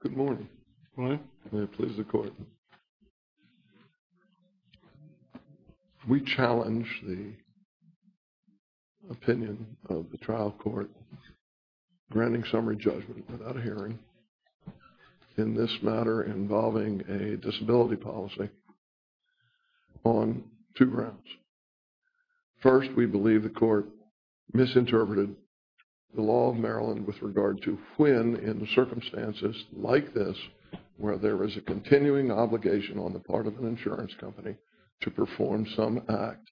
Good morning. Good morning. May it please the Court. We challenge the opinion of the trial court granting summary judgment without a hearing in this matter involving a disability policy on two grounds. First, we believe the Court misinterpreted the law of Maryland with regard to when in circumstances like this where there is a continuing obligation on the part of an insurance company to perform some act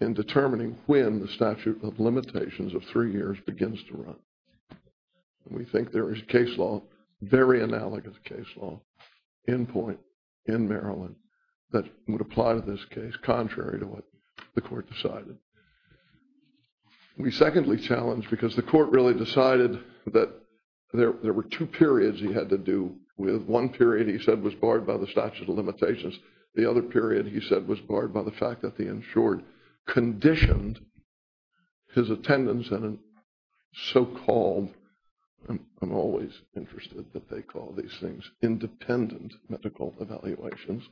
in determining when the statute of limitations of three years begins to run. We think there is case law, very analogous case law, in point in Maryland that would apply to this case contrary to what the Court decided. We secondly challenge because the Court really decided that there were two periods he had to do with. One period he said was barred by the statute of limitations. The other period he said was barred by the fact that the insured conditioned his attendance at a so-called, I'm always interested that they call these things independent medical evaluations,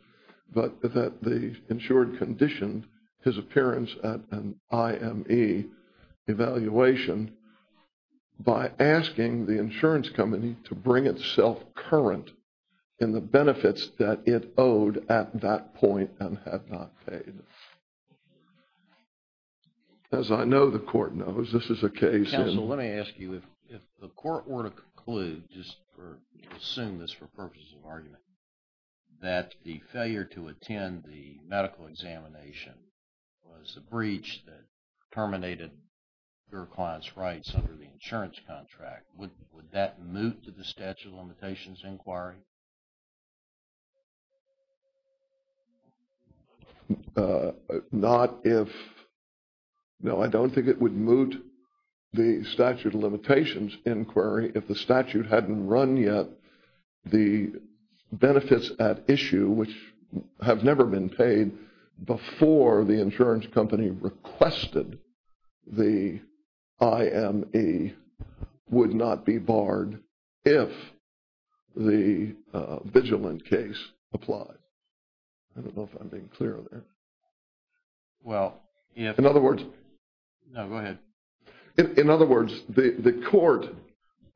but that the insured conditioned his appearance at an IME evaluation by asking the insurance company to bring itself current in the benefits that it owed at that point and had not paid. As I know the Court knows, this is a case... Counsel, let me ask you, if the Court were to conclude, just assume this for purposes of argument, that the failure to attend the medical examination was a breach that terminated your client's rights under the insurance contract, would that move to the statute of limitations inquiry? Not if... No, I don't think it would move to the statute of limitations inquiry if the statute hadn't run yet. The benefits at issue, which have never been paid before the insurance company requested the IME would not be barred if the vigilant case applied. I don't know if I'm being clear there. Well, if... In other words... No, go ahead. In other words, the Court,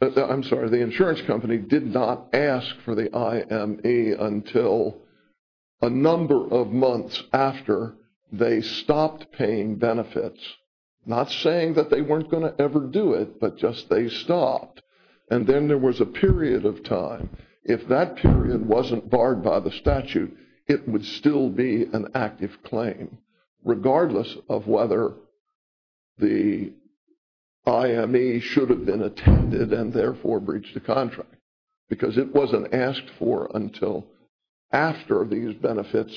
I'm sorry, the insurance company did not ask for the IME until a number of months after they stopped paying benefits, not saying that they weren't going to ever do it, but just they stopped. And then there was a period of time. If that period wasn't barred by the statute, it would still be an active claim, regardless of whether the IME should have been attended and therefore breached the contract, because it wasn't asked for until after these benefits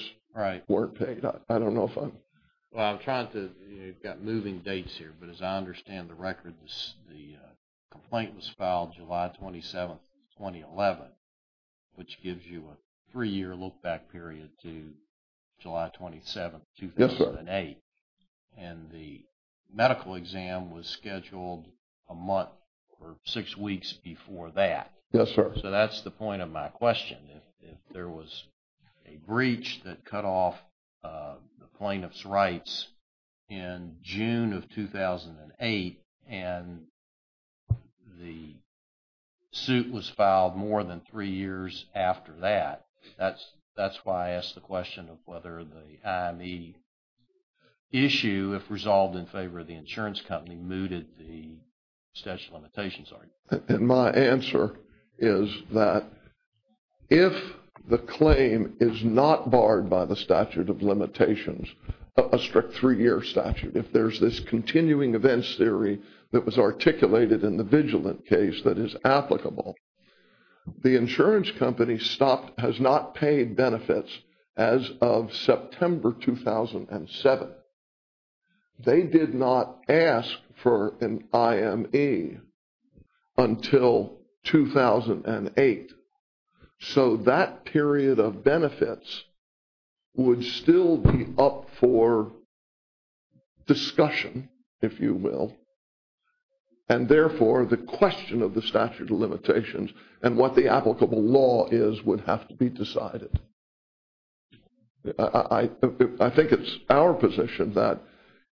weren't paid. Right. I don't know if I'm... Well, I'm trying to... You've got moving dates here, but as I understand the record, the complaint was filed July 27, 2011, which gives you a three-year look-back period to July 27, 2008. Yes, sir. And the medical exam was scheduled a month or six weeks before that. Yes, sir. So that's the point of my question. If there was a breach that cut off the plaintiff's rights in June of 2008 and the suit was filed more than three years after that, that's why I asked the question of whether the IME issue, if resolved in favor of the insurance company, mooted the statute of limitations argument. And my answer is that if the claim is not barred by the statute of limitations, a strict three-year statute, if there's this continuing events theory that was articulated in the Vigilant case that is applicable, the insurance company has not paid benefits as of September 2007. They did not ask for an IME until 2008. So that period of benefits would still be up for discussion, if you will, and therefore the question of the statute of limitations and what the applicable law is would have to be decided. I think it's our position that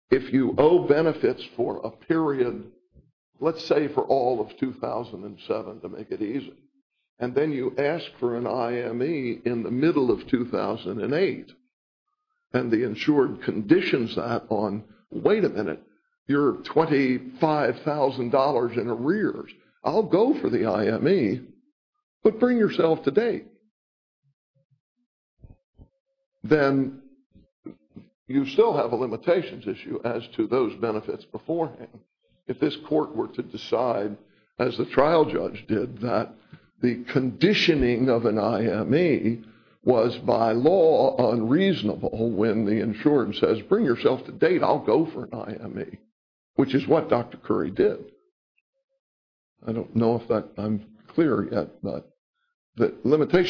if you owe benefits for a period, let's say for all of 2007 to make it easy, and then you ask for an IME in the middle of 2008 and the insured conditions that on, wait a minute, you're $25,000 in arrears. I'll go for the IME, but bring yourself to date. Then you still have a limitations issue as to those benefits beforehand. If this court were to decide, as the trial judge did, that the conditioning of an IME was by law unreasonable when the insured says, bring yourself to date, I'll go for an IME, which is what Dr. Curry did. I don't know if I'm clear yet, but the limitations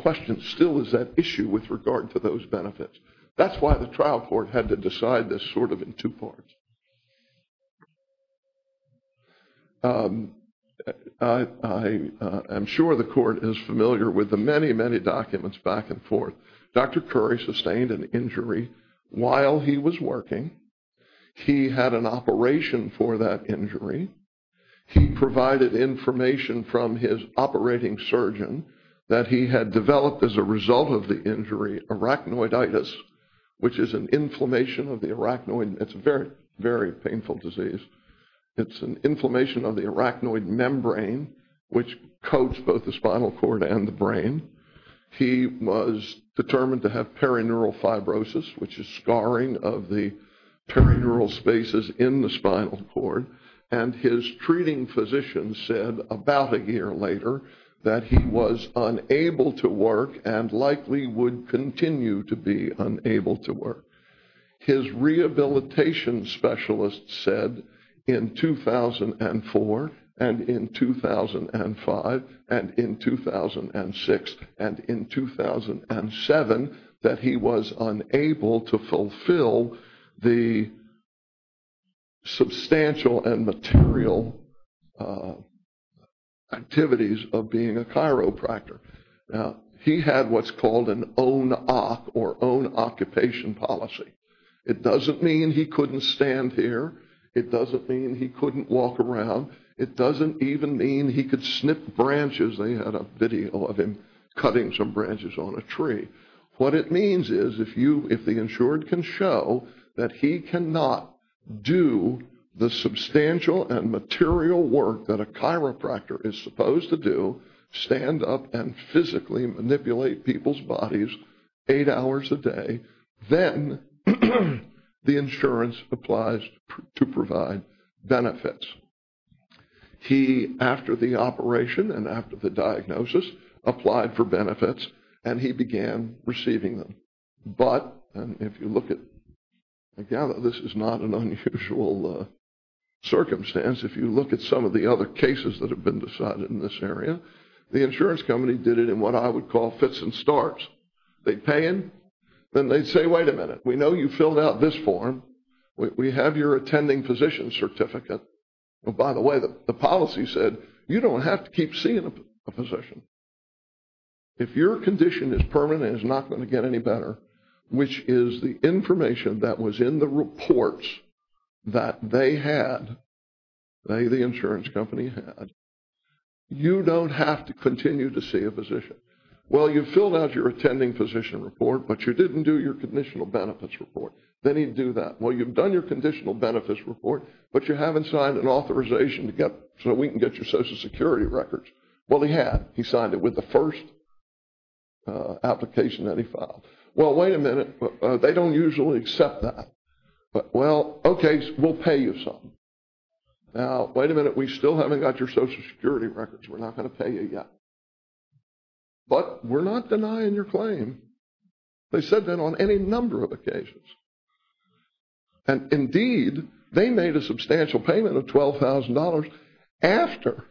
question still is at issue with regard to those benefits. That's why the trial court had to decide this sort of in two parts. I am sure the court is familiar with the many, many documents back and forth. Dr. Curry sustained an injury while he was working. He had an operation for that injury. He provided information from his operating surgeon that he had developed as a result of the injury arachnoiditis, which is an inflammation of the arachnoid. It's a very, very painful disease. It's an inflammation of the arachnoid membrane, which coats both the spinal cord and the brain. He was determined to have perineural fibrosis, which is scarring of the perineural spaces in the spinal cord. And his treating physician said about a year later that he was unable to work and likely would continue to be unable to work. His rehabilitation specialist said in 2004 and in 2005 and in 2006 and in 2007 that he was unable to fulfill the substantial and material activities of being a chiropractor. Now, he had what's called an own-op or own-occupation policy. It doesn't mean he couldn't stand here. It doesn't mean he couldn't walk around. It doesn't even mean he could snip branches. They had a video of him cutting some branches on a tree. What it means is if the insured can show that he cannot do the substantial and material work that a chiropractor is supposed to do, stand up and physically manipulate people's bodies eight hours a day, then the insurance applies to provide benefits. He, after the operation and after the diagnosis, applied for benefits, and he began receiving them. But, and if you look at, again, this is not an unusual circumstance. If you look at some of the other cases that have been decided in this area, the insurance company did it in what I would call fits and starts. They'd pay him, then they'd say, wait a minute. We know you filled out this form. We have your attending physician's certificate. By the way, the policy said you don't have to keep seeing a physician. If your condition is permanent, it's not going to get any better, which is the information that was in the reports that they had, they, the insurance company, had. You don't have to continue to see a physician. Well, you filled out your attending physician report, but you didn't do your conditional benefits report. Then he'd do that. Well, you've done your conditional benefits report, but you haven't signed an authorization so that we can get your Social Security records. Well, he had. He signed it with the first application that he filed. Well, wait a minute. They don't usually accept that. Well, okay, we'll pay you some. Now, wait a minute. We still haven't got your Social Security records. We're not going to pay you yet. But we're not denying your claim. They said that on any number of occasions. And, indeed, they made a substantial payment of $12,000 after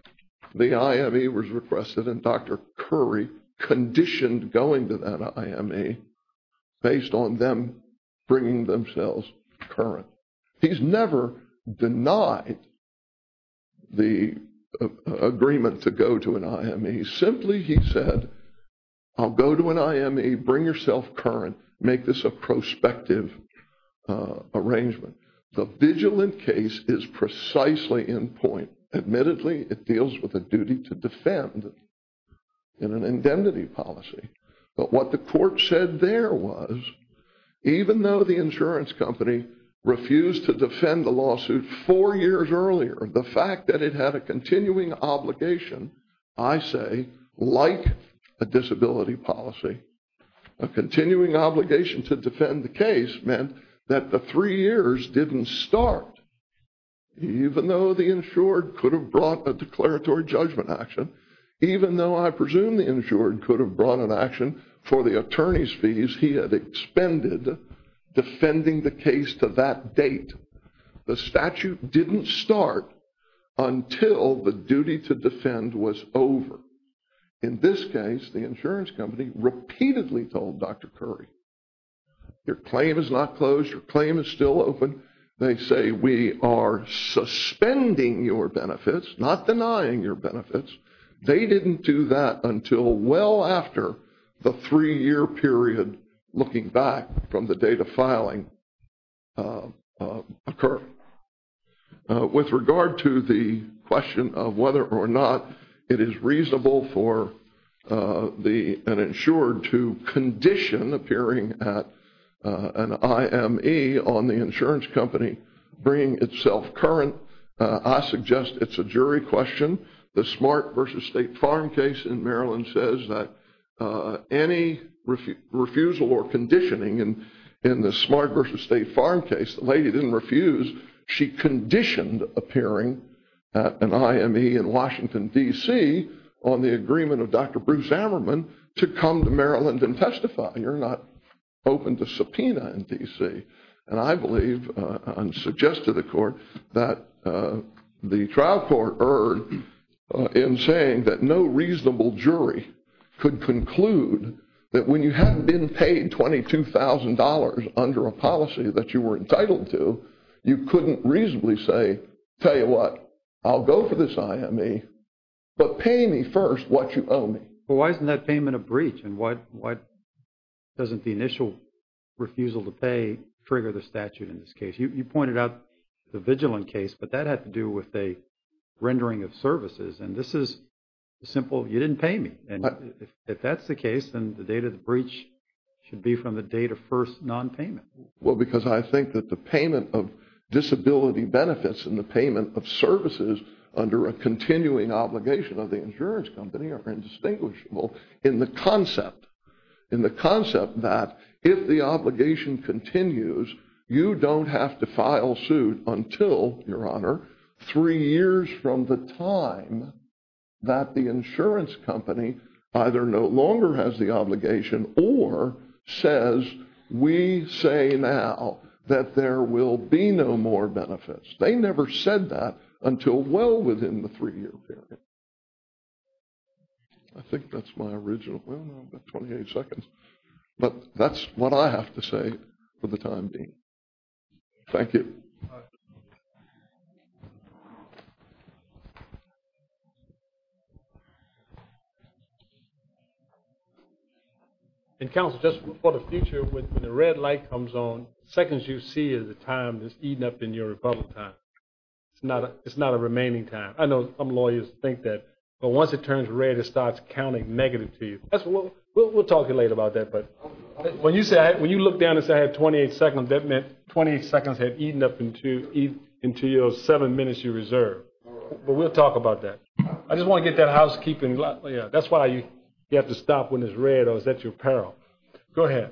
the IME was requested, and Dr. Curry conditioned going to that IME based on them bringing themselves current. He's never denied the agreement to go to an IME. Simply, he said, I'll go to an IME, bring yourself current, make this a prospective arrangement. The vigilant case is precisely in point. Admittedly, it deals with a duty to defend in an indemnity policy. But what the court said there was, even though the insurance company refused to defend the lawsuit four years earlier, the fact that it had a continuing obligation, I say, like a disability policy, a continuing obligation to defend the case meant that the three years didn't start. Even though the insured could have brought a declaratory judgment action, even though I presume the insured could have brought an action for the attorney's fees, he had expended defending the case to that date. The statute didn't start until the duty to defend was over. In this case, the insurance company repeatedly told Dr. Curry, your claim is not closed, your claim is still open. They say we are suspending your benefits, not denying your benefits. They didn't do that until well after the three-year period, looking back from the date of filing, occurred. With regard to the question of whether or not it is reasonable for an insured to condition appearing at an IME on the insurance company bringing itself current, I suggest it's a jury question. The Smart v. State Farm case in Maryland says that any refusal or conditioning in the Smart v. State Farm case, the lady didn't refuse, she conditioned appearing at an IME in Washington, D.C., on the agreement of Dr. Bruce Ammerman to come to Maryland and testify. You're not open to subpoena in D.C. And I believe and suggest to the court that the trial court erred in saying that no reasonable jury could conclude that when you hadn't been paid $22,000 under a policy that you were entitled to, you couldn't reasonably say, tell you what, I'll go for this IME, but pay me first what you owe me. Well, why isn't that payment a breach? And why doesn't the initial refusal to pay trigger the statute in this case? You pointed out the Vigilant case, but that had to do with a rendering of services. And this is simple, you didn't pay me. And if that's the case, then the date of the breach should be from the date of first nonpayment. Well, because I think that the payment of disability benefits and the payment of services under a continuing obligation of the insurance company are indistinguishable in the concept. In the concept that if the obligation continues, you don't have to file suit until, Your Honor, three years from the time that the insurance company either no longer has the obligation or says, we say now that there will be no more benefits. They never said that until well within the three-year period. I think that's my original, well, I've got 28 seconds. But that's what I have to say for the time being. Thank you. And counsel, just for the future, when the red light comes on, the seconds you see is the time that's eating up in your rebuttal time. It's not a remaining time. I know some lawyers think that. But once it turns red, it starts counting negative to you. We'll talk later about that. When you look down and say I have 28 seconds, that meant 28 seconds had eaten up into your seven minutes you reserved. But we'll talk about that. I just want to get that housekeeping. That's why you have to stop when it's red, or is that your peril? Go ahead.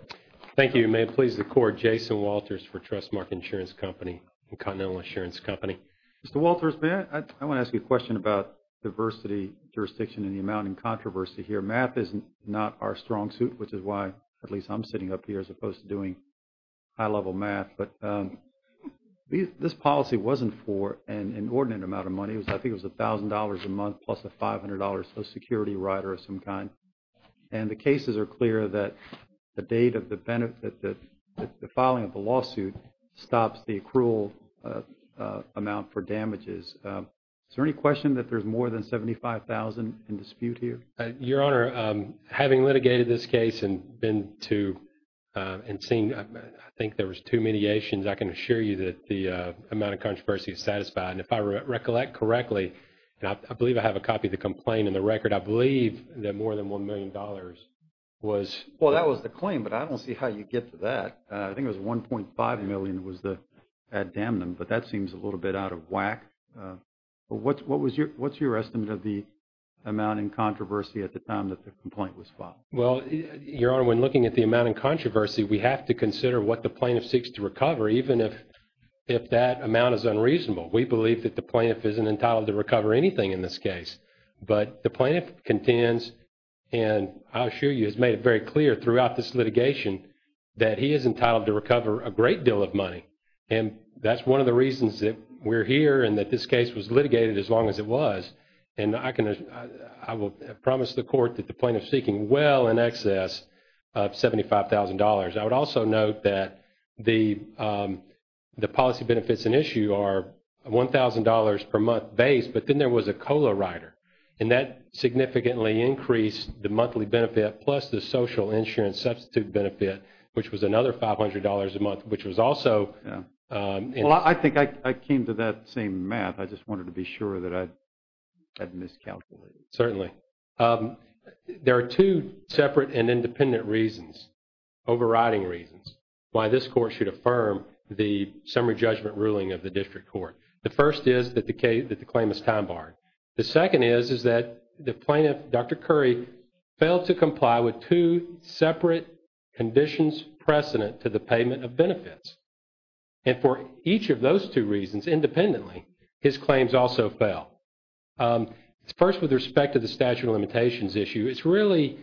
Thank you. May it please the Court, Jason Walters for Trustmark Insurance Company, the Continental Insurance Company. Mr. Walters, may I? I want to ask you a question about diversity, jurisdiction, and the amount in controversy here. Math is not our strong suit, which is why at least I'm sitting up here, as opposed to doing high-level math. But this policy wasn't for an inordinate amount of money. I think it was $1,000 a month plus a $500 Social Security Rider of some kind. And the cases are clear that the date of the filing of the lawsuit stops the accrual amount for damages. Is there any question that there's more than $75,000 in dispute here? Your Honor, having litigated this case and been to and seen, I think there was two mediations, I can assure you that the amount of controversy is satisfied. And if I recollect correctly, and I believe I have a copy of the complaint in the record, I believe that more than $1 million was. Well, that was the claim, but I don't see how you get to that. I think it was $1.5 million was the ad damnum, but that seems a little bit out of whack. What's your estimate of the amount in controversy at the time that the complaint was filed? Well, Your Honor, when looking at the amount in controversy, we have to consider what the plaintiff seeks to recover, even if that amount is unreasonable. We believe that the plaintiff isn't entitled to recover anything in this case. But the plaintiff contends, and I assure you, has made it very clear throughout this litigation that he is entitled to recover a great deal of money. And that's one of the reasons that we're here and that this case was litigated as long as it was. And I will promise the court that the plaintiff is seeking well in excess of $75,000. I would also note that the policy benefits in issue are $1,000 per month base, but then there was a COLA rider, and that significantly increased the monthly benefit, plus the social insurance substitute benefit, which was another $500 a month, which was also... Well, I think I came to that same math. I just wanted to be sure that I hadn't miscalculated. Certainly. There are two separate and independent reasons, overriding reasons, why this court should affirm the summary judgment ruling of the district court. The first is that the claim is time-barred. The second is that the plaintiff, Dr. Curry, failed to comply with two separate conditions precedent to the payment of benefits. And for each of those two reasons, independently, his claims also fail. First, with respect to the statute of limitations issue, it's really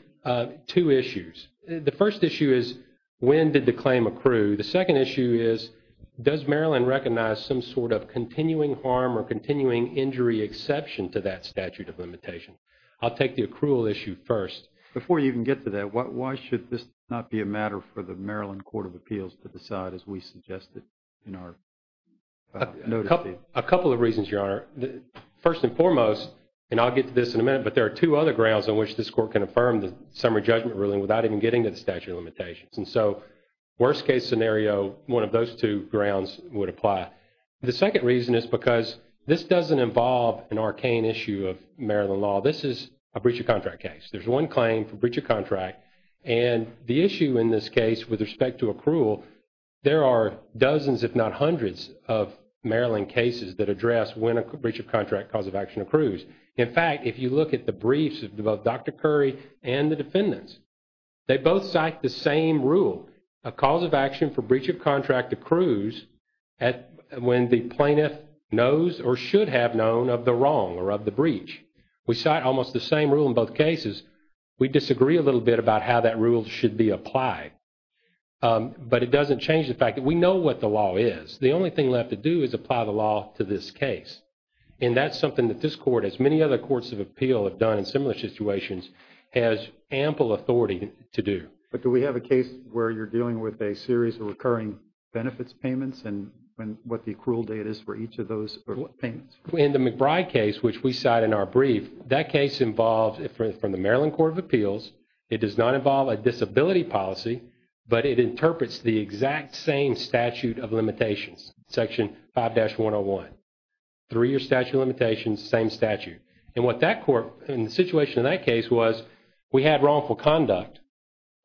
two issues. The first issue is when did the claim accrue? The second issue is does Maryland recognize some sort of continuing harm or continuing injury exception to that statute of limitations? I'll take the accrual issue first. Before you even get to that, why should this not be a matter for the Maryland Court of Appeals to decide, as we suggested in our notice? A couple of reasons, Your Honor. First and foremost, and I'll get to this in a minute, but there are two other grounds on which this court can affirm the summary judgment ruling without even getting to the statute of limitations. And so, worst-case scenario, one of those two grounds would apply. The second reason is because this doesn't involve an arcane issue of Maryland law. This is a breach of contract case. There's one claim for breach of contract, and the issue in this case with respect to accrual, there are dozens, if not hundreds, of Maryland cases that address when a breach of contract cause of action accrues. In fact, if you look at the briefs of both Dr. Curry and the defendants, they both cite the same rule. A cause of action for breach of contract accrues when the plaintiff knows or should have known of the wrong or of the breach. We cite almost the same rule in both cases. We disagree a little bit about how that rule should be applied. But it doesn't change the fact that we know what the law is. The only thing left to do is apply the law to this case. And that's something that this court, as many other courts of appeal have done in similar situations, has ample authority to do. But do we have a case where you're dealing with a series of recurring benefits payments and what the accrual date is for each of those payments? In the McBride case, which we cite in our brief, that case involves, from the Maryland Court of Appeals, it does not involve a disability policy, but it interprets the exact same statute of limitations, Section 5-101. Three-year statute of limitations, same statute. And what that court, and the situation in that case was, we had wrongful conduct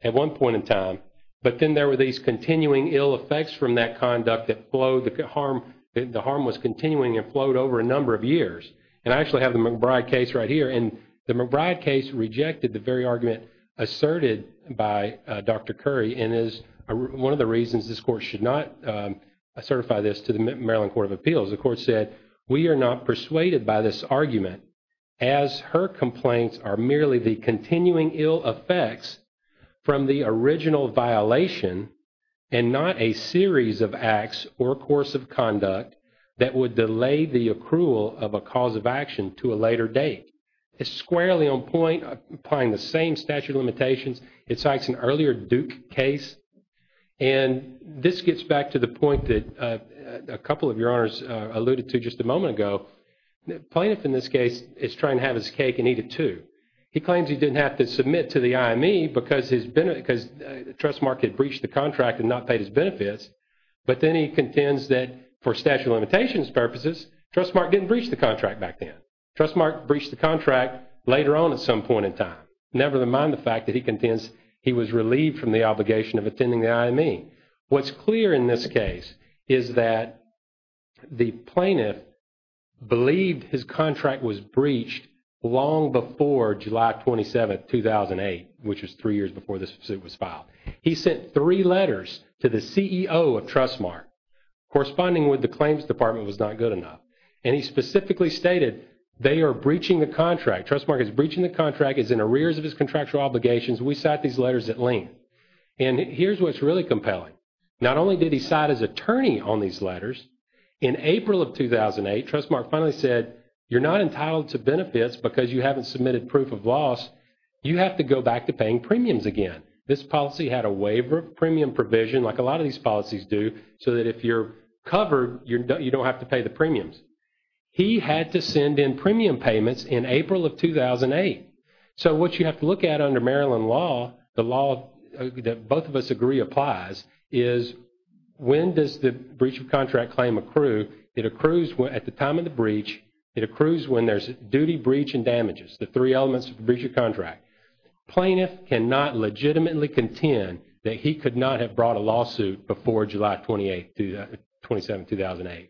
at one point in time, but then there were these continuing ill effects from that conduct that flowed, and the harm was continuing and flowed over a number of years. And I actually have the McBride case right here. And the McBride case rejected the very argument asserted by Dr. Curry and is one of the reasons this court should not certify this to the Maryland Court of Appeals. The court said, we are not persuaded by this argument, as her complaints are merely the continuing ill effects from the original violation and not a series of acts or course of conduct that would delay the accrual of a cause of action to a later date. It's squarely on point, applying the same statute of limitations. It cites an earlier Duke case. And this gets back to the point that a couple of your honors alluded to just a moment ago. The plaintiff in this case is trying to have his cake and eat it too. He claims he didn't have to submit to the IME because Trustmark had breached the contract and not paid his benefits. But then he contends that for statute of limitations purposes, Trustmark didn't breach the contract back then. Trustmark breached the contract later on at some point in time. Never mind the fact that he contends he was relieved from the obligation of attending the IME. What's clear in this case is that the plaintiff believed his contract was breached long before July 27, 2008, which was three years before this suit was filed. He sent three letters to the CEO of Trustmark corresponding with the claims department was not good enough. And he specifically stated they are breaching the contract. Trustmark is breaching the contract, is in arrears of his contractual obligations. We cite these letters at length. And here's what's really compelling. Not only did he cite his attorney on these letters, in April of 2008, Trustmark finally said, you're not entitled to benefits because you haven't submitted proof of loss. You have to go back to paying premiums again. This policy had a waiver of premium provision like a lot of these policies do so that if you're covered, you don't have to pay the premiums. He had to send in premium payments in April of 2008. So what you have to look at under Maryland law, the law that both of us agree applies, is when does the breach of contract claim accrue? It accrues at the time of the breach. It accrues when there's duty, breach, and damages, the three elements of the breach of contract. Plaintiff cannot legitimately contend that he could not have brought a lawsuit before July 27, 2008.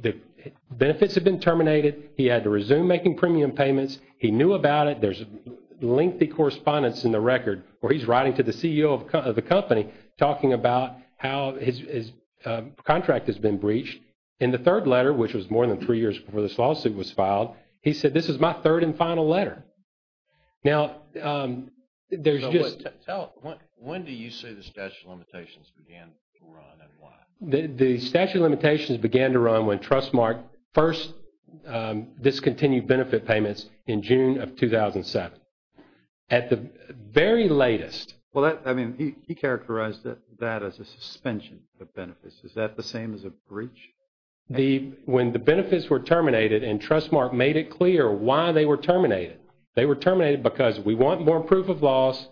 The benefits had been terminated. He had to resume making premium payments. He knew about it. There's lengthy correspondence in the record where he's writing to the CEO of the company talking about how his contract has been breached. In the third letter, which was more than three years before this lawsuit was filed, he said, this is my third and final letter. Now, there's just... When do you say the statute of limitations began to run and why? The statute of limitations began to run when Trustmark first discontinued benefit payments in June of 2007. At the very latest... Well, I mean, he characterized that as a suspension of benefits. Is that the same as a breach? When the benefits were terminated and Trustmark made it clear why they were terminated, they were terminated because we want more proof of loss.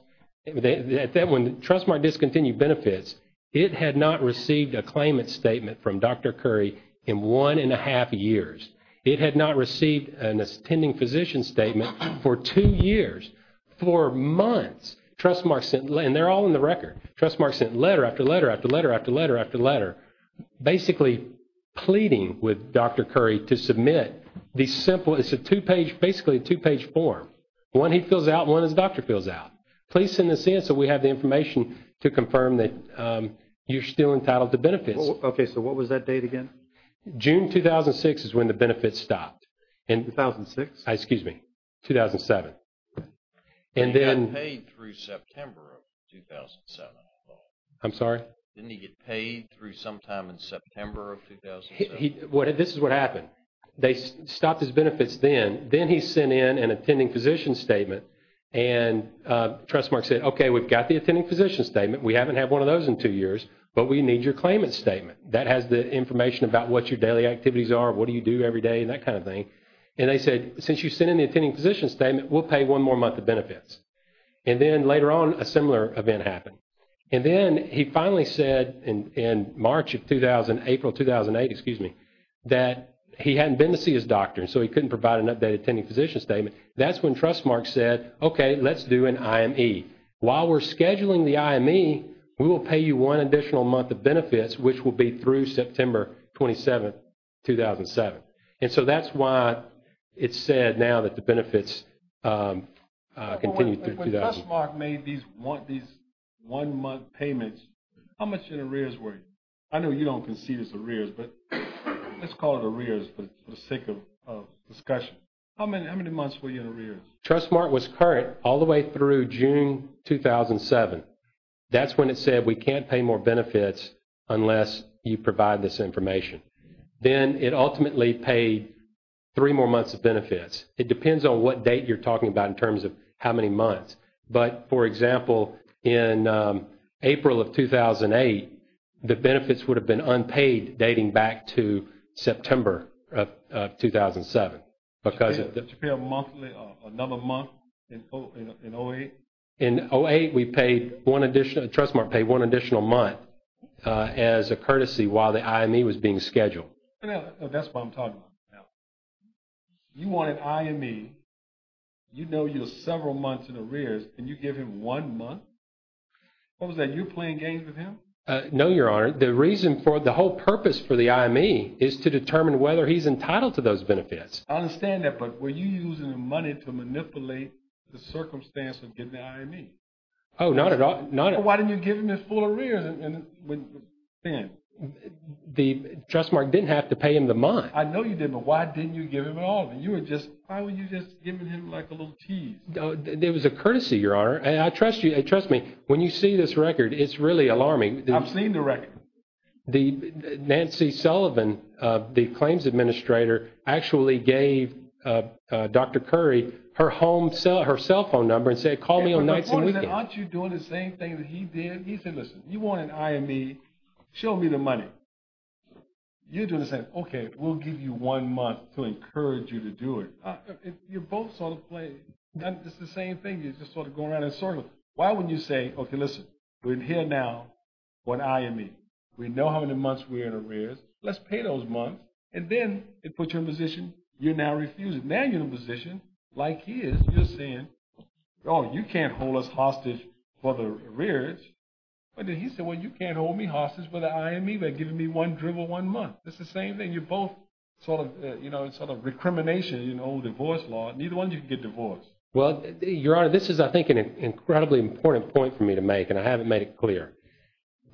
When Trustmark discontinued benefits, it had not received a claimant statement from Dr. Curry in one and a half years. It had not received an attending physician statement for two years. For months, Trustmark sent... And they're all in the record. Trustmark sent letter after letter after letter after letter after letter, basically pleading with Dr. Curry to submit the simple... It's basically a two-page form. One he fills out and one his doctor fills out. Please send this in so we have the information to confirm that you're still entitled to benefits. Okay. So what was that date again? June 2006 is when the benefits stopped. 2006? Excuse me, 2007. He didn't get paid through September of 2007 at all. I'm sorry? Didn't he get paid through sometime in September of 2007? This is what happened. They stopped his benefits then. Then he sent in an attending physician statement and Trustmark said, okay, we've got the attending physician statement. We haven't had one of those in two years, but we need your claimant statement. That has the information about what your daily activities are, what do you do every day and that kind of thing. And they said, since you sent in the attending physician statement, we'll pay one more month of benefits. And then later on a similar event happened. And then he finally said in March of 2000, April 2008, excuse me, that he hadn't been to see his doctor, so he couldn't provide an updated attending physician statement. That's when Trustmark said, okay, let's do an IME. While we're scheduling the IME, we will pay you one additional month of benefits, which will be through September 27, 2007. And so that's why it said now that the benefits continue through 2000. When Trustmark made these one-month payments, how much in arrears were you? I know you don't concede it's arrears, but let's call it arrears for the sake of discussion. How many months were you in arrears? Trustmark was current all the way through June 2007. That's when it said we can't pay more benefits unless you provide this information. Then it ultimately paid three more months of benefits. It depends on what date you're talking about in terms of how many months. But, for example, in April of 2008, the benefits would have been unpaid dating back to September of 2007. Should it be a monthly or another month in 08? In 08, we paid one additional, Trustmark paid one additional month as a courtesy while the IME was being scheduled. That's what I'm talking about. You wanted IME. You know you have several months in arrears, and you give him one month? What was that? You playing games with him? No, Your Honor. The reason for it, the whole purpose for the IME, is to determine whether he's entitled to those benefits. I understand that, but were you using the money to manipulate the circumstance of getting the IME? Oh, not at all. Why didn't you give him his full arrears then? Trustmark didn't have to pay him the month. I know you didn't, but why didn't you give him at all? Why were you just giving him like a little tease? It was a courtesy, Your Honor. Trust me, when you see this record, it's really alarming. I've seen the record. Nancy Sullivan, the claims administrator, actually gave Dr. Curry her cell phone number and said, Call me on nights and weekends. Aren't you doing the same thing that he did? He said, listen, you want an IME, show me the money. You're doing the same. Okay, we'll give you one month to encourage you to do it. You're both sort of playing. It's the same thing. You're just sort of going around in circles. Why wouldn't you say, okay, listen, we're here now for an IME. We know how many months we're in arrears. Let's pay those months. And then it puts you in a position you're now refusing. Now you're in a position, like his, you're saying, oh, you can't hold us hostage for the arrears. He said, well, you can't hold me hostage for the IME. They're giving me one month. It's the same thing. You're both sort of, you know, sort of recrimination, you know, divorce law. Neither one of you can get divorced. Well, Your Honor, this is, I think, an incredibly important point for me to make, and I haven't made it clear.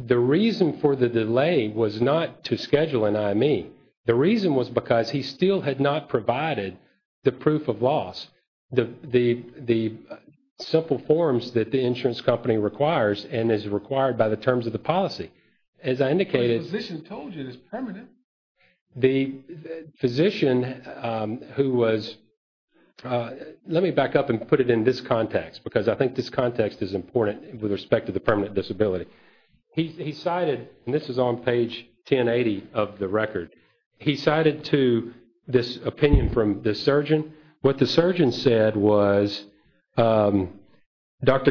The reason for the delay was not to schedule an IME. The reason was because he still had not provided the proof of loss. The simple forms that the insurance company requires and is required by the terms of the policy. As I indicated. The physician told you it was permanent. The physician who was, let me back up and put it in this context, because I think this context is important with respect to the permanent disability. He cited, and this is on page 1080 of the record, he cited to this opinion from the surgeon. What the surgeon said was, Dr.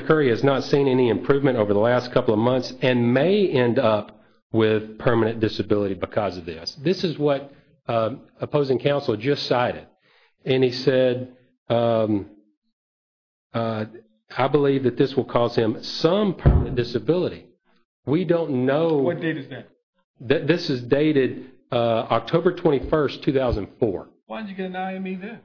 Curry has not seen any improvement over the last couple of months and may end up with permanent disability because of this. This is what opposing counsel just cited. And he said, I believe that this will cause him some permanent disability. We don't know. What date is that? This is dated October 21st, 2004. Why did you get an IME then?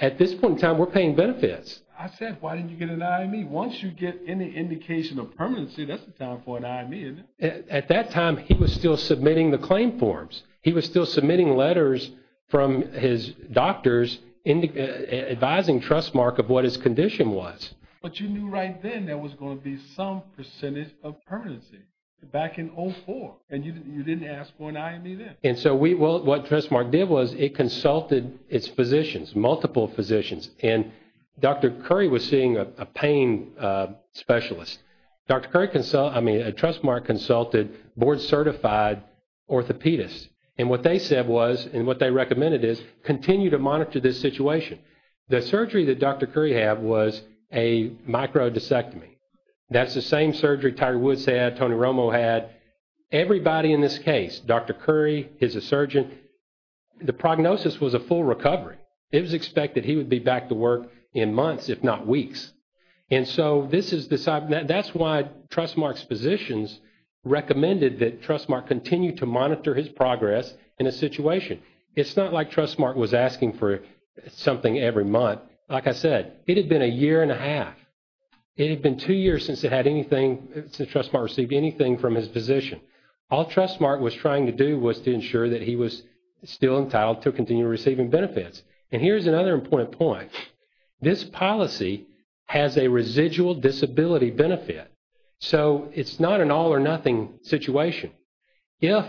At this point in time, we're paying benefits. I said, why didn't you get an IME? Once you get any indication of permanency, that's the time for an IME, isn't it? At that time, he was still submitting the claim forms. He was still submitting letters from his doctors advising Trustmark of what his condition was. But you knew right then there was going to be some percentage of permanency back in 2004. And you didn't ask for an IME then. And so what Trustmark did was it consulted its physicians, multiple physicians. And Dr. Curry was seeing a pain specialist. Trustmark consulted board-certified orthopedists. And what they said was, and what they recommended is, continue to monitor this situation. The surgery that Dr. Curry had was a microdiscectomy. That's the same surgery Tiger Woods had, Tony Romo had. Everybody in this case, Dr. Curry, his surgeon, the prognosis was a full recovery. It was expected he would be back to work in months, if not weeks. And so that's why Trustmark's physicians recommended that Trustmark continue to monitor his progress in a situation. It's not like Trustmark was asking for something every month. Like I said, it had been a year and a half. It had been two years since it had anything, since Trustmark received anything from his physician. All Trustmark was trying to do was to ensure that he was still entitled to continue receiving benefits. And here's another important point. This policy has a residual disability benefit. So it's not an all or nothing situation. If,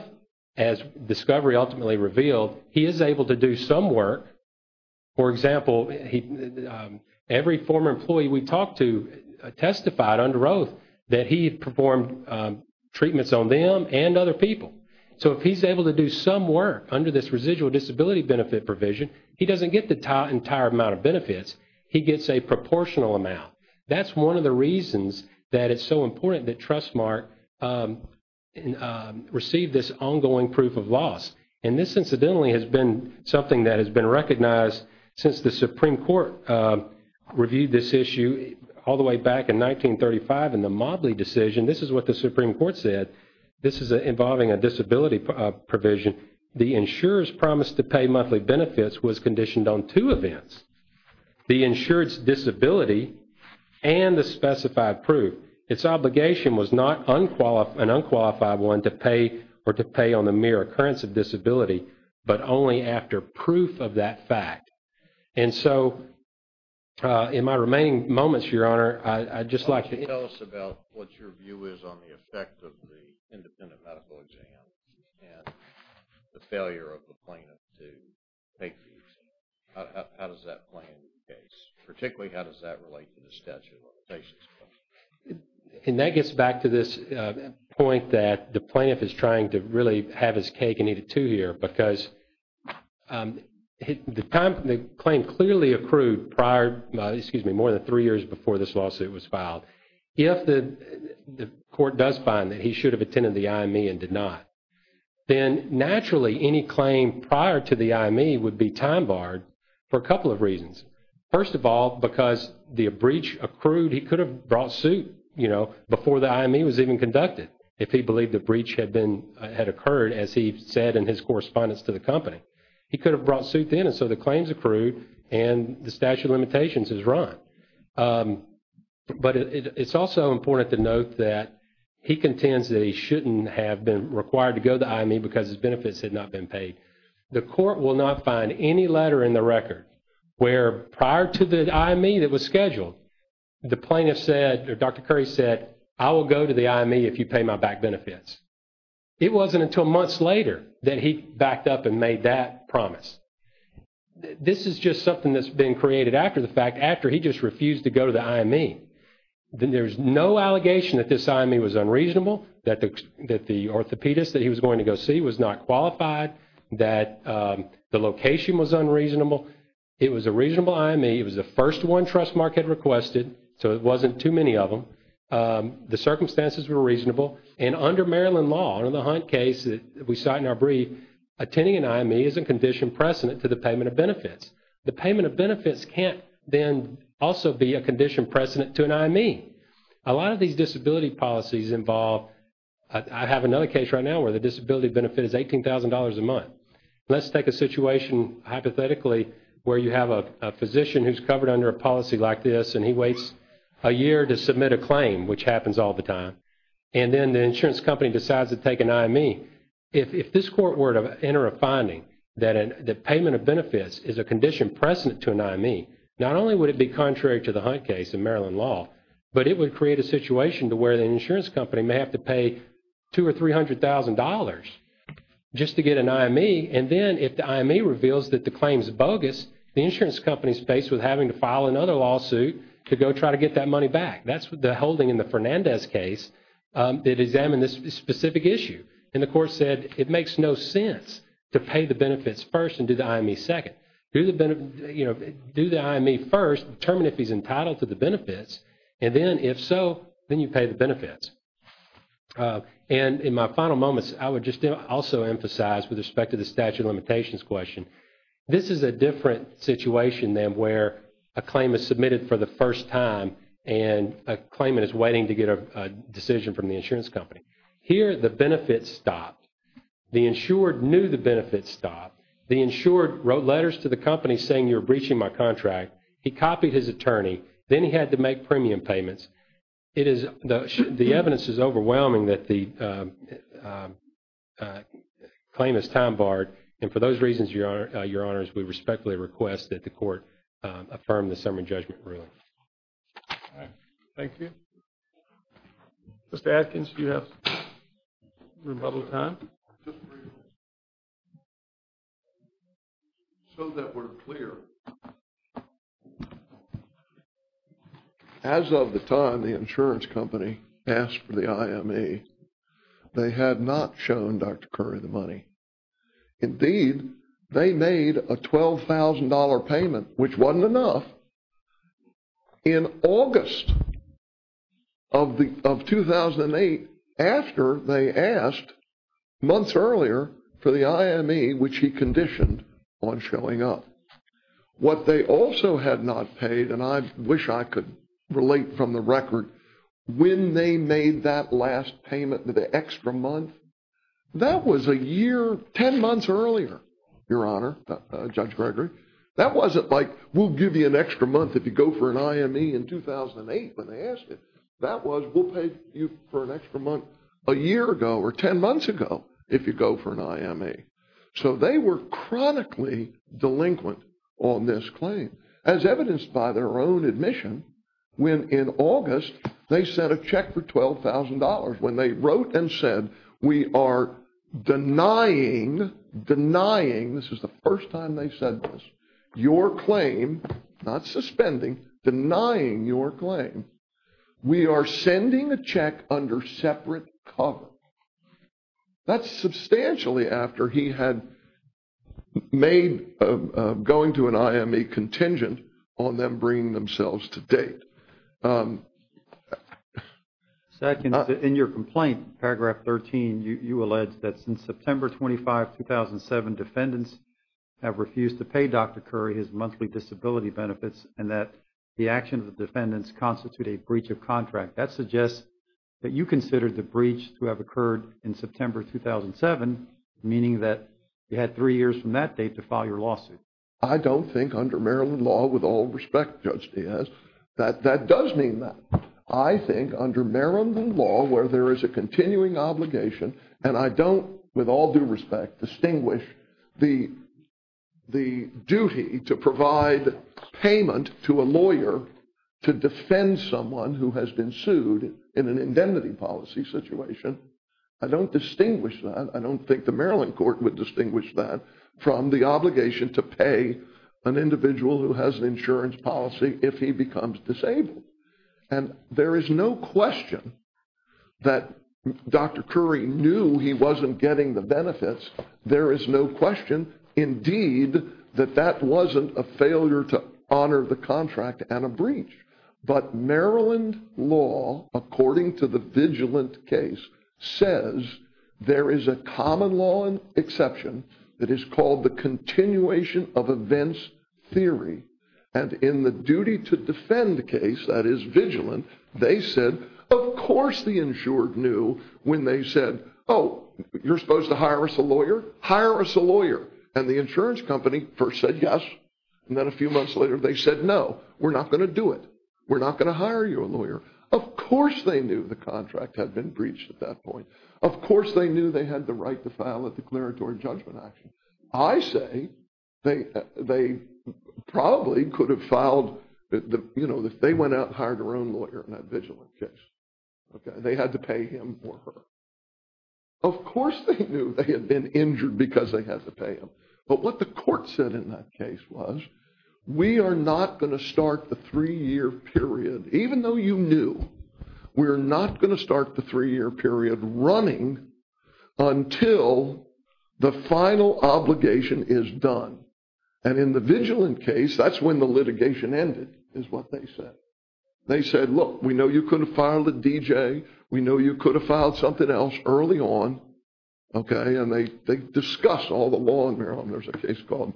as discovery ultimately revealed, he is able to do some work. For example, every former employee we talked to testified under oath that he performed treatments on them and other people. So if he's able to do some work under this residual disability benefit provision, he doesn't get the entire amount of benefits. He gets a proportional amount. That's one of the reasons that it's so important that Trustmark receive this ongoing proof of loss. And this incidentally has been something that has been recognized since the Supreme Court reviewed this issue all the way back in 1935 in the Mobley decision. This is what the Supreme Court said. This is involving a disability provision. The insurer's promise to pay monthly benefits was conditioned on two events. The insurer's disability and the specified proof. Its obligation was not an unqualified one to pay or to pay on the mere occurrence of disability, but only after proof of that fact. And so in my remaining moments, Your Honor, I'd just like to... Tell us about what your view is on the effect of the independent medical exam and the failure of the plaintiff to take the exam. How does that play into the case? Particularly, how does that relate to the statute of limitations? And that gets back to this point that the plaintiff is trying to really have his cake and eat it too here. Because the claim clearly accrued prior, excuse me, more than three years before this lawsuit was filed. If the court does find that he should have attended the IME and did not, then naturally any claim prior to the IME would be time barred for a couple of reasons. First of all, because the breach accrued, he could have brought suit, you know, before the IME was even conducted, if he believed the breach had occurred as he said in his correspondence to the company. He could have brought suit then and so the claims accrued and the statute of limitations is run. But it's also important to note that he contends that he shouldn't have been required to go to the IME because his benefits had not been paid. The court will not find any letter in the record where prior to the IME that was scheduled, the plaintiff said, or Dr. Curry said, I will go to the IME if you pay my back benefits. It wasn't until months later that he backed up and made that promise. This is just something that's been created after the fact, after he just refused to go to the IME. Then there's no allegation that this IME was unreasonable, that the orthopedist that he was going to go see was not qualified, that the location was unreasonable. It was a reasonable IME. It was the first one Trustmark had requested, so it wasn't too many of them. The circumstances were reasonable. And under Maryland law, under the Hunt case that we cite in our brief, the payment of benefits can't then also be a condition precedent to an IME. A lot of these disability policies involve, I have another case right now where the disability benefit is $18,000 a month. Let's take a situation, hypothetically, where you have a physician who's covered under a policy like this and he waits a year to submit a claim, which happens all the time. And then the insurance company decides to take an IME. If this court were to enter a finding that payment of benefits is a condition precedent to an IME, not only would it be contrary to the Hunt case in Maryland law, but it would create a situation to where the insurance company may have to pay $200,000 or $300,000 just to get an IME. And then if the IME reveals that the claim is bogus, the insurance company is faced with having to file another lawsuit to go try to get that money back. That's the holding in the Fernandez case that examined this specific issue. And the court said it makes no sense to pay the benefits first and do the IME second. Do the IME first, determine if he's entitled to the benefits, and then if so, then you pay the benefits. And in my final moments, I would just also emphasize with respect to the statute of limitations question, this is a different situation than where a claim is submitted for the first time and a claimant is waiting to get a decision from the insurance company. Here the benefits stopped. The insured knew the benefits stopped. The insured wrote letters to the company saying you're breaching my contract. He copied his attorney. Then he had to make premium payments. The evidence is overwhelming that the claim is time barred. And for those reasons, Your Honors, we respectfully request that the court affirm the summary judgment ruling. Thank you. Mr. Atkins, do you have some rebuttal time? Just a brief moment. So that we're clear. As of the time the insurance company asked for the IME, they had not shown Dr. Curry the money. Indeed, they made a $12,000 payment, which wasn't enough. In August of 2008, after they asked months earlier for the IME, which he conditioned on showing up. What they also had not paid, and I wish I could relate from the record, when they made that last payment, the extra month, that was a year, 10 months earlier, Your Honor, Judge Gregory. That wasn't like we'll give you an extra month if you go for an IME in 2008 when they asked it. That was we'll pay you for an extra month a year ago or 10 months ago if you go for an IME. So they were chronically delinquent on this claim. As evidenced by their own admission, when in August they sent a check for $12,000, when they wrote and said, we are denying, denying, this is the first time they've said this, your claim, not suspending, denying your claim, we are sending a check under separate cover. That's substantially after he had made going to an IME contingent on them bringing themselves to date. Second, in your complaint, paragraph 13, you allege that since September 25, 2007, defendants have refused to pay Dr. Curry his monthly disability benefits and that the action of the defendants constitute a breach of contract. That suggests that you considered the breach to have occurred in September 2007, meaning that you had three years from that date to file your lawsuit. I don't think under Maryland law, with all respect, Judge Diaz, that that does mean that. I think under Maryland law, where there is a continuing obligation, and I don't with all due respect distinguish the duty to provide payment to a lawyer to defend someone who has been sued in an indemnity policy situation. I don't distinguish that. I don't think the Maryland court would distinguish that from the obligation to pay an individual who has an insurance policy if he becomes disabled. And there is no question that Dr. Curry knew he wasn't getting the benefits. There is no question, indeed, that that wasn't a failure to honor the contract and a breach. But Maryland law, according to the vigilant case, says there is a common law exception that is called the continuation of events theory. And in the duty to defend case, that is vigilant, they said, of course the insured knew when they said, oh, you're supposed to hire us a lawyer? Hire us a lawyer. And the insurance company first said yes, and then a few months later they said no. We're not going to do it. We're not going to hire you a lawyer. Of course they knew the contract had been breached at that point. Of course they knew they had the right to file a declaratory judgment action. I say they probably could have filed, you know, they went out and hired their own lawyer in that vigilant case. They had to pay him or her. Of course they knew they had been injured because they had to pay them. But what the court said in that case was, we are not going to start the three-year period, even though you knew, we are not going to start the three-year period running until the final obligation is done. And in the vigilant case, that's when the litigation ended, is what they said. They said, look, we know you could have filed a DJ. We know you could have filed something else early on. Okay? And they discuss all the law in Maryland. There's a case called.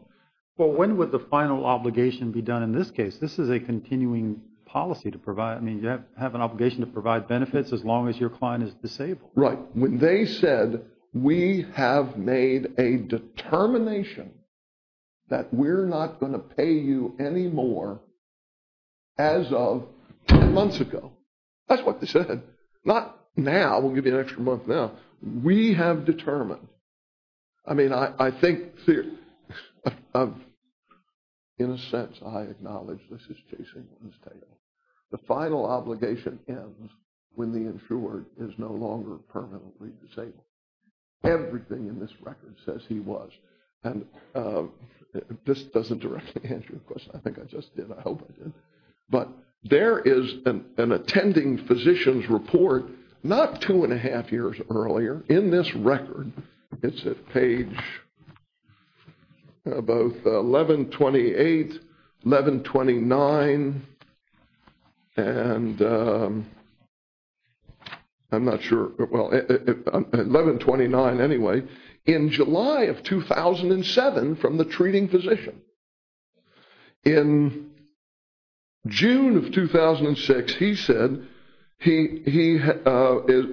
Well, when would the final obligation be done in this case? This is a continuing policy to provide. I mean, you have an obligation to provide benefits as long as your client is disabled. Right. When they said, we have made a determination that we're not going to pay you anymore as of 10 months ago. That's what they said. Not now. We'll give you an extra month now. We have determined. I mean, I think, in a sense, I acknowledge this is Jay Singleton's tale. The final obligation ends when the insured is no longer permanently disabled. Everything in this record says he was. And this doesn't directly answer your question. I think I just did. I hope I did. But there is an attending physician's report not two and a half years earlier in this record. It's at page both 1128, 1129, and I'm not sure. Well, 1129 anyway, in July of 2007 from the treating physician. In June of 2006, he said he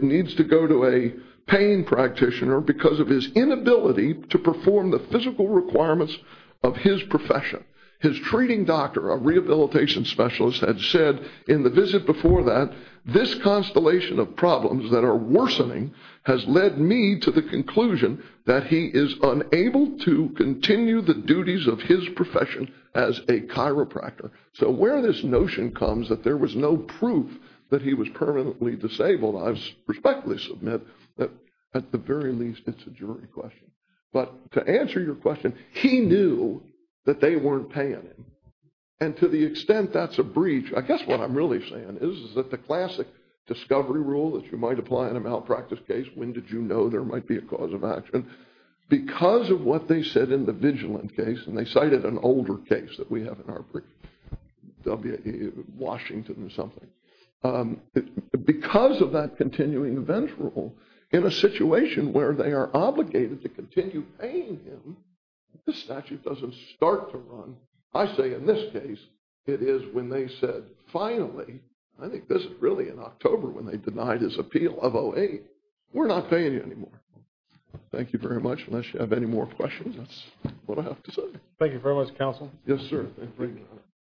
needs to go to a pain practitioner because of his inability to perform the physical requirements of his profession. His treating doctor, a rehabilitation specialist, had said in the visit before that, this constellation of problems that are worsening has led me to the conclusion that he is unable to continue the duties of his profession as a chiropractor. So where this notion comes that there was no proof that he was permanently disabled, I respectfully submit that at the very least it's a jury question. But to answer your question, he knew that they weren't paying him. And to the extent that's a breach, I guess what I'm really saying is that the classic discovery rule that you might apply in a malpractice case, when did you know there might be a cause of action? Because of what they said in the vigilant case, and they cited an older case that we have in our brief, Washington or something. Because of that continuing event rule, in a situation where they are obligated to continue paying him, this statute doesn't start to run. So I say in this case, it is when they said, finally, I think this is really in October when they denied his appeal of 08, we're not paying you anymore. Thank you very much. Unless you have any more questions, that's what I have to say. Thank you very much, counsel. Yes, sir.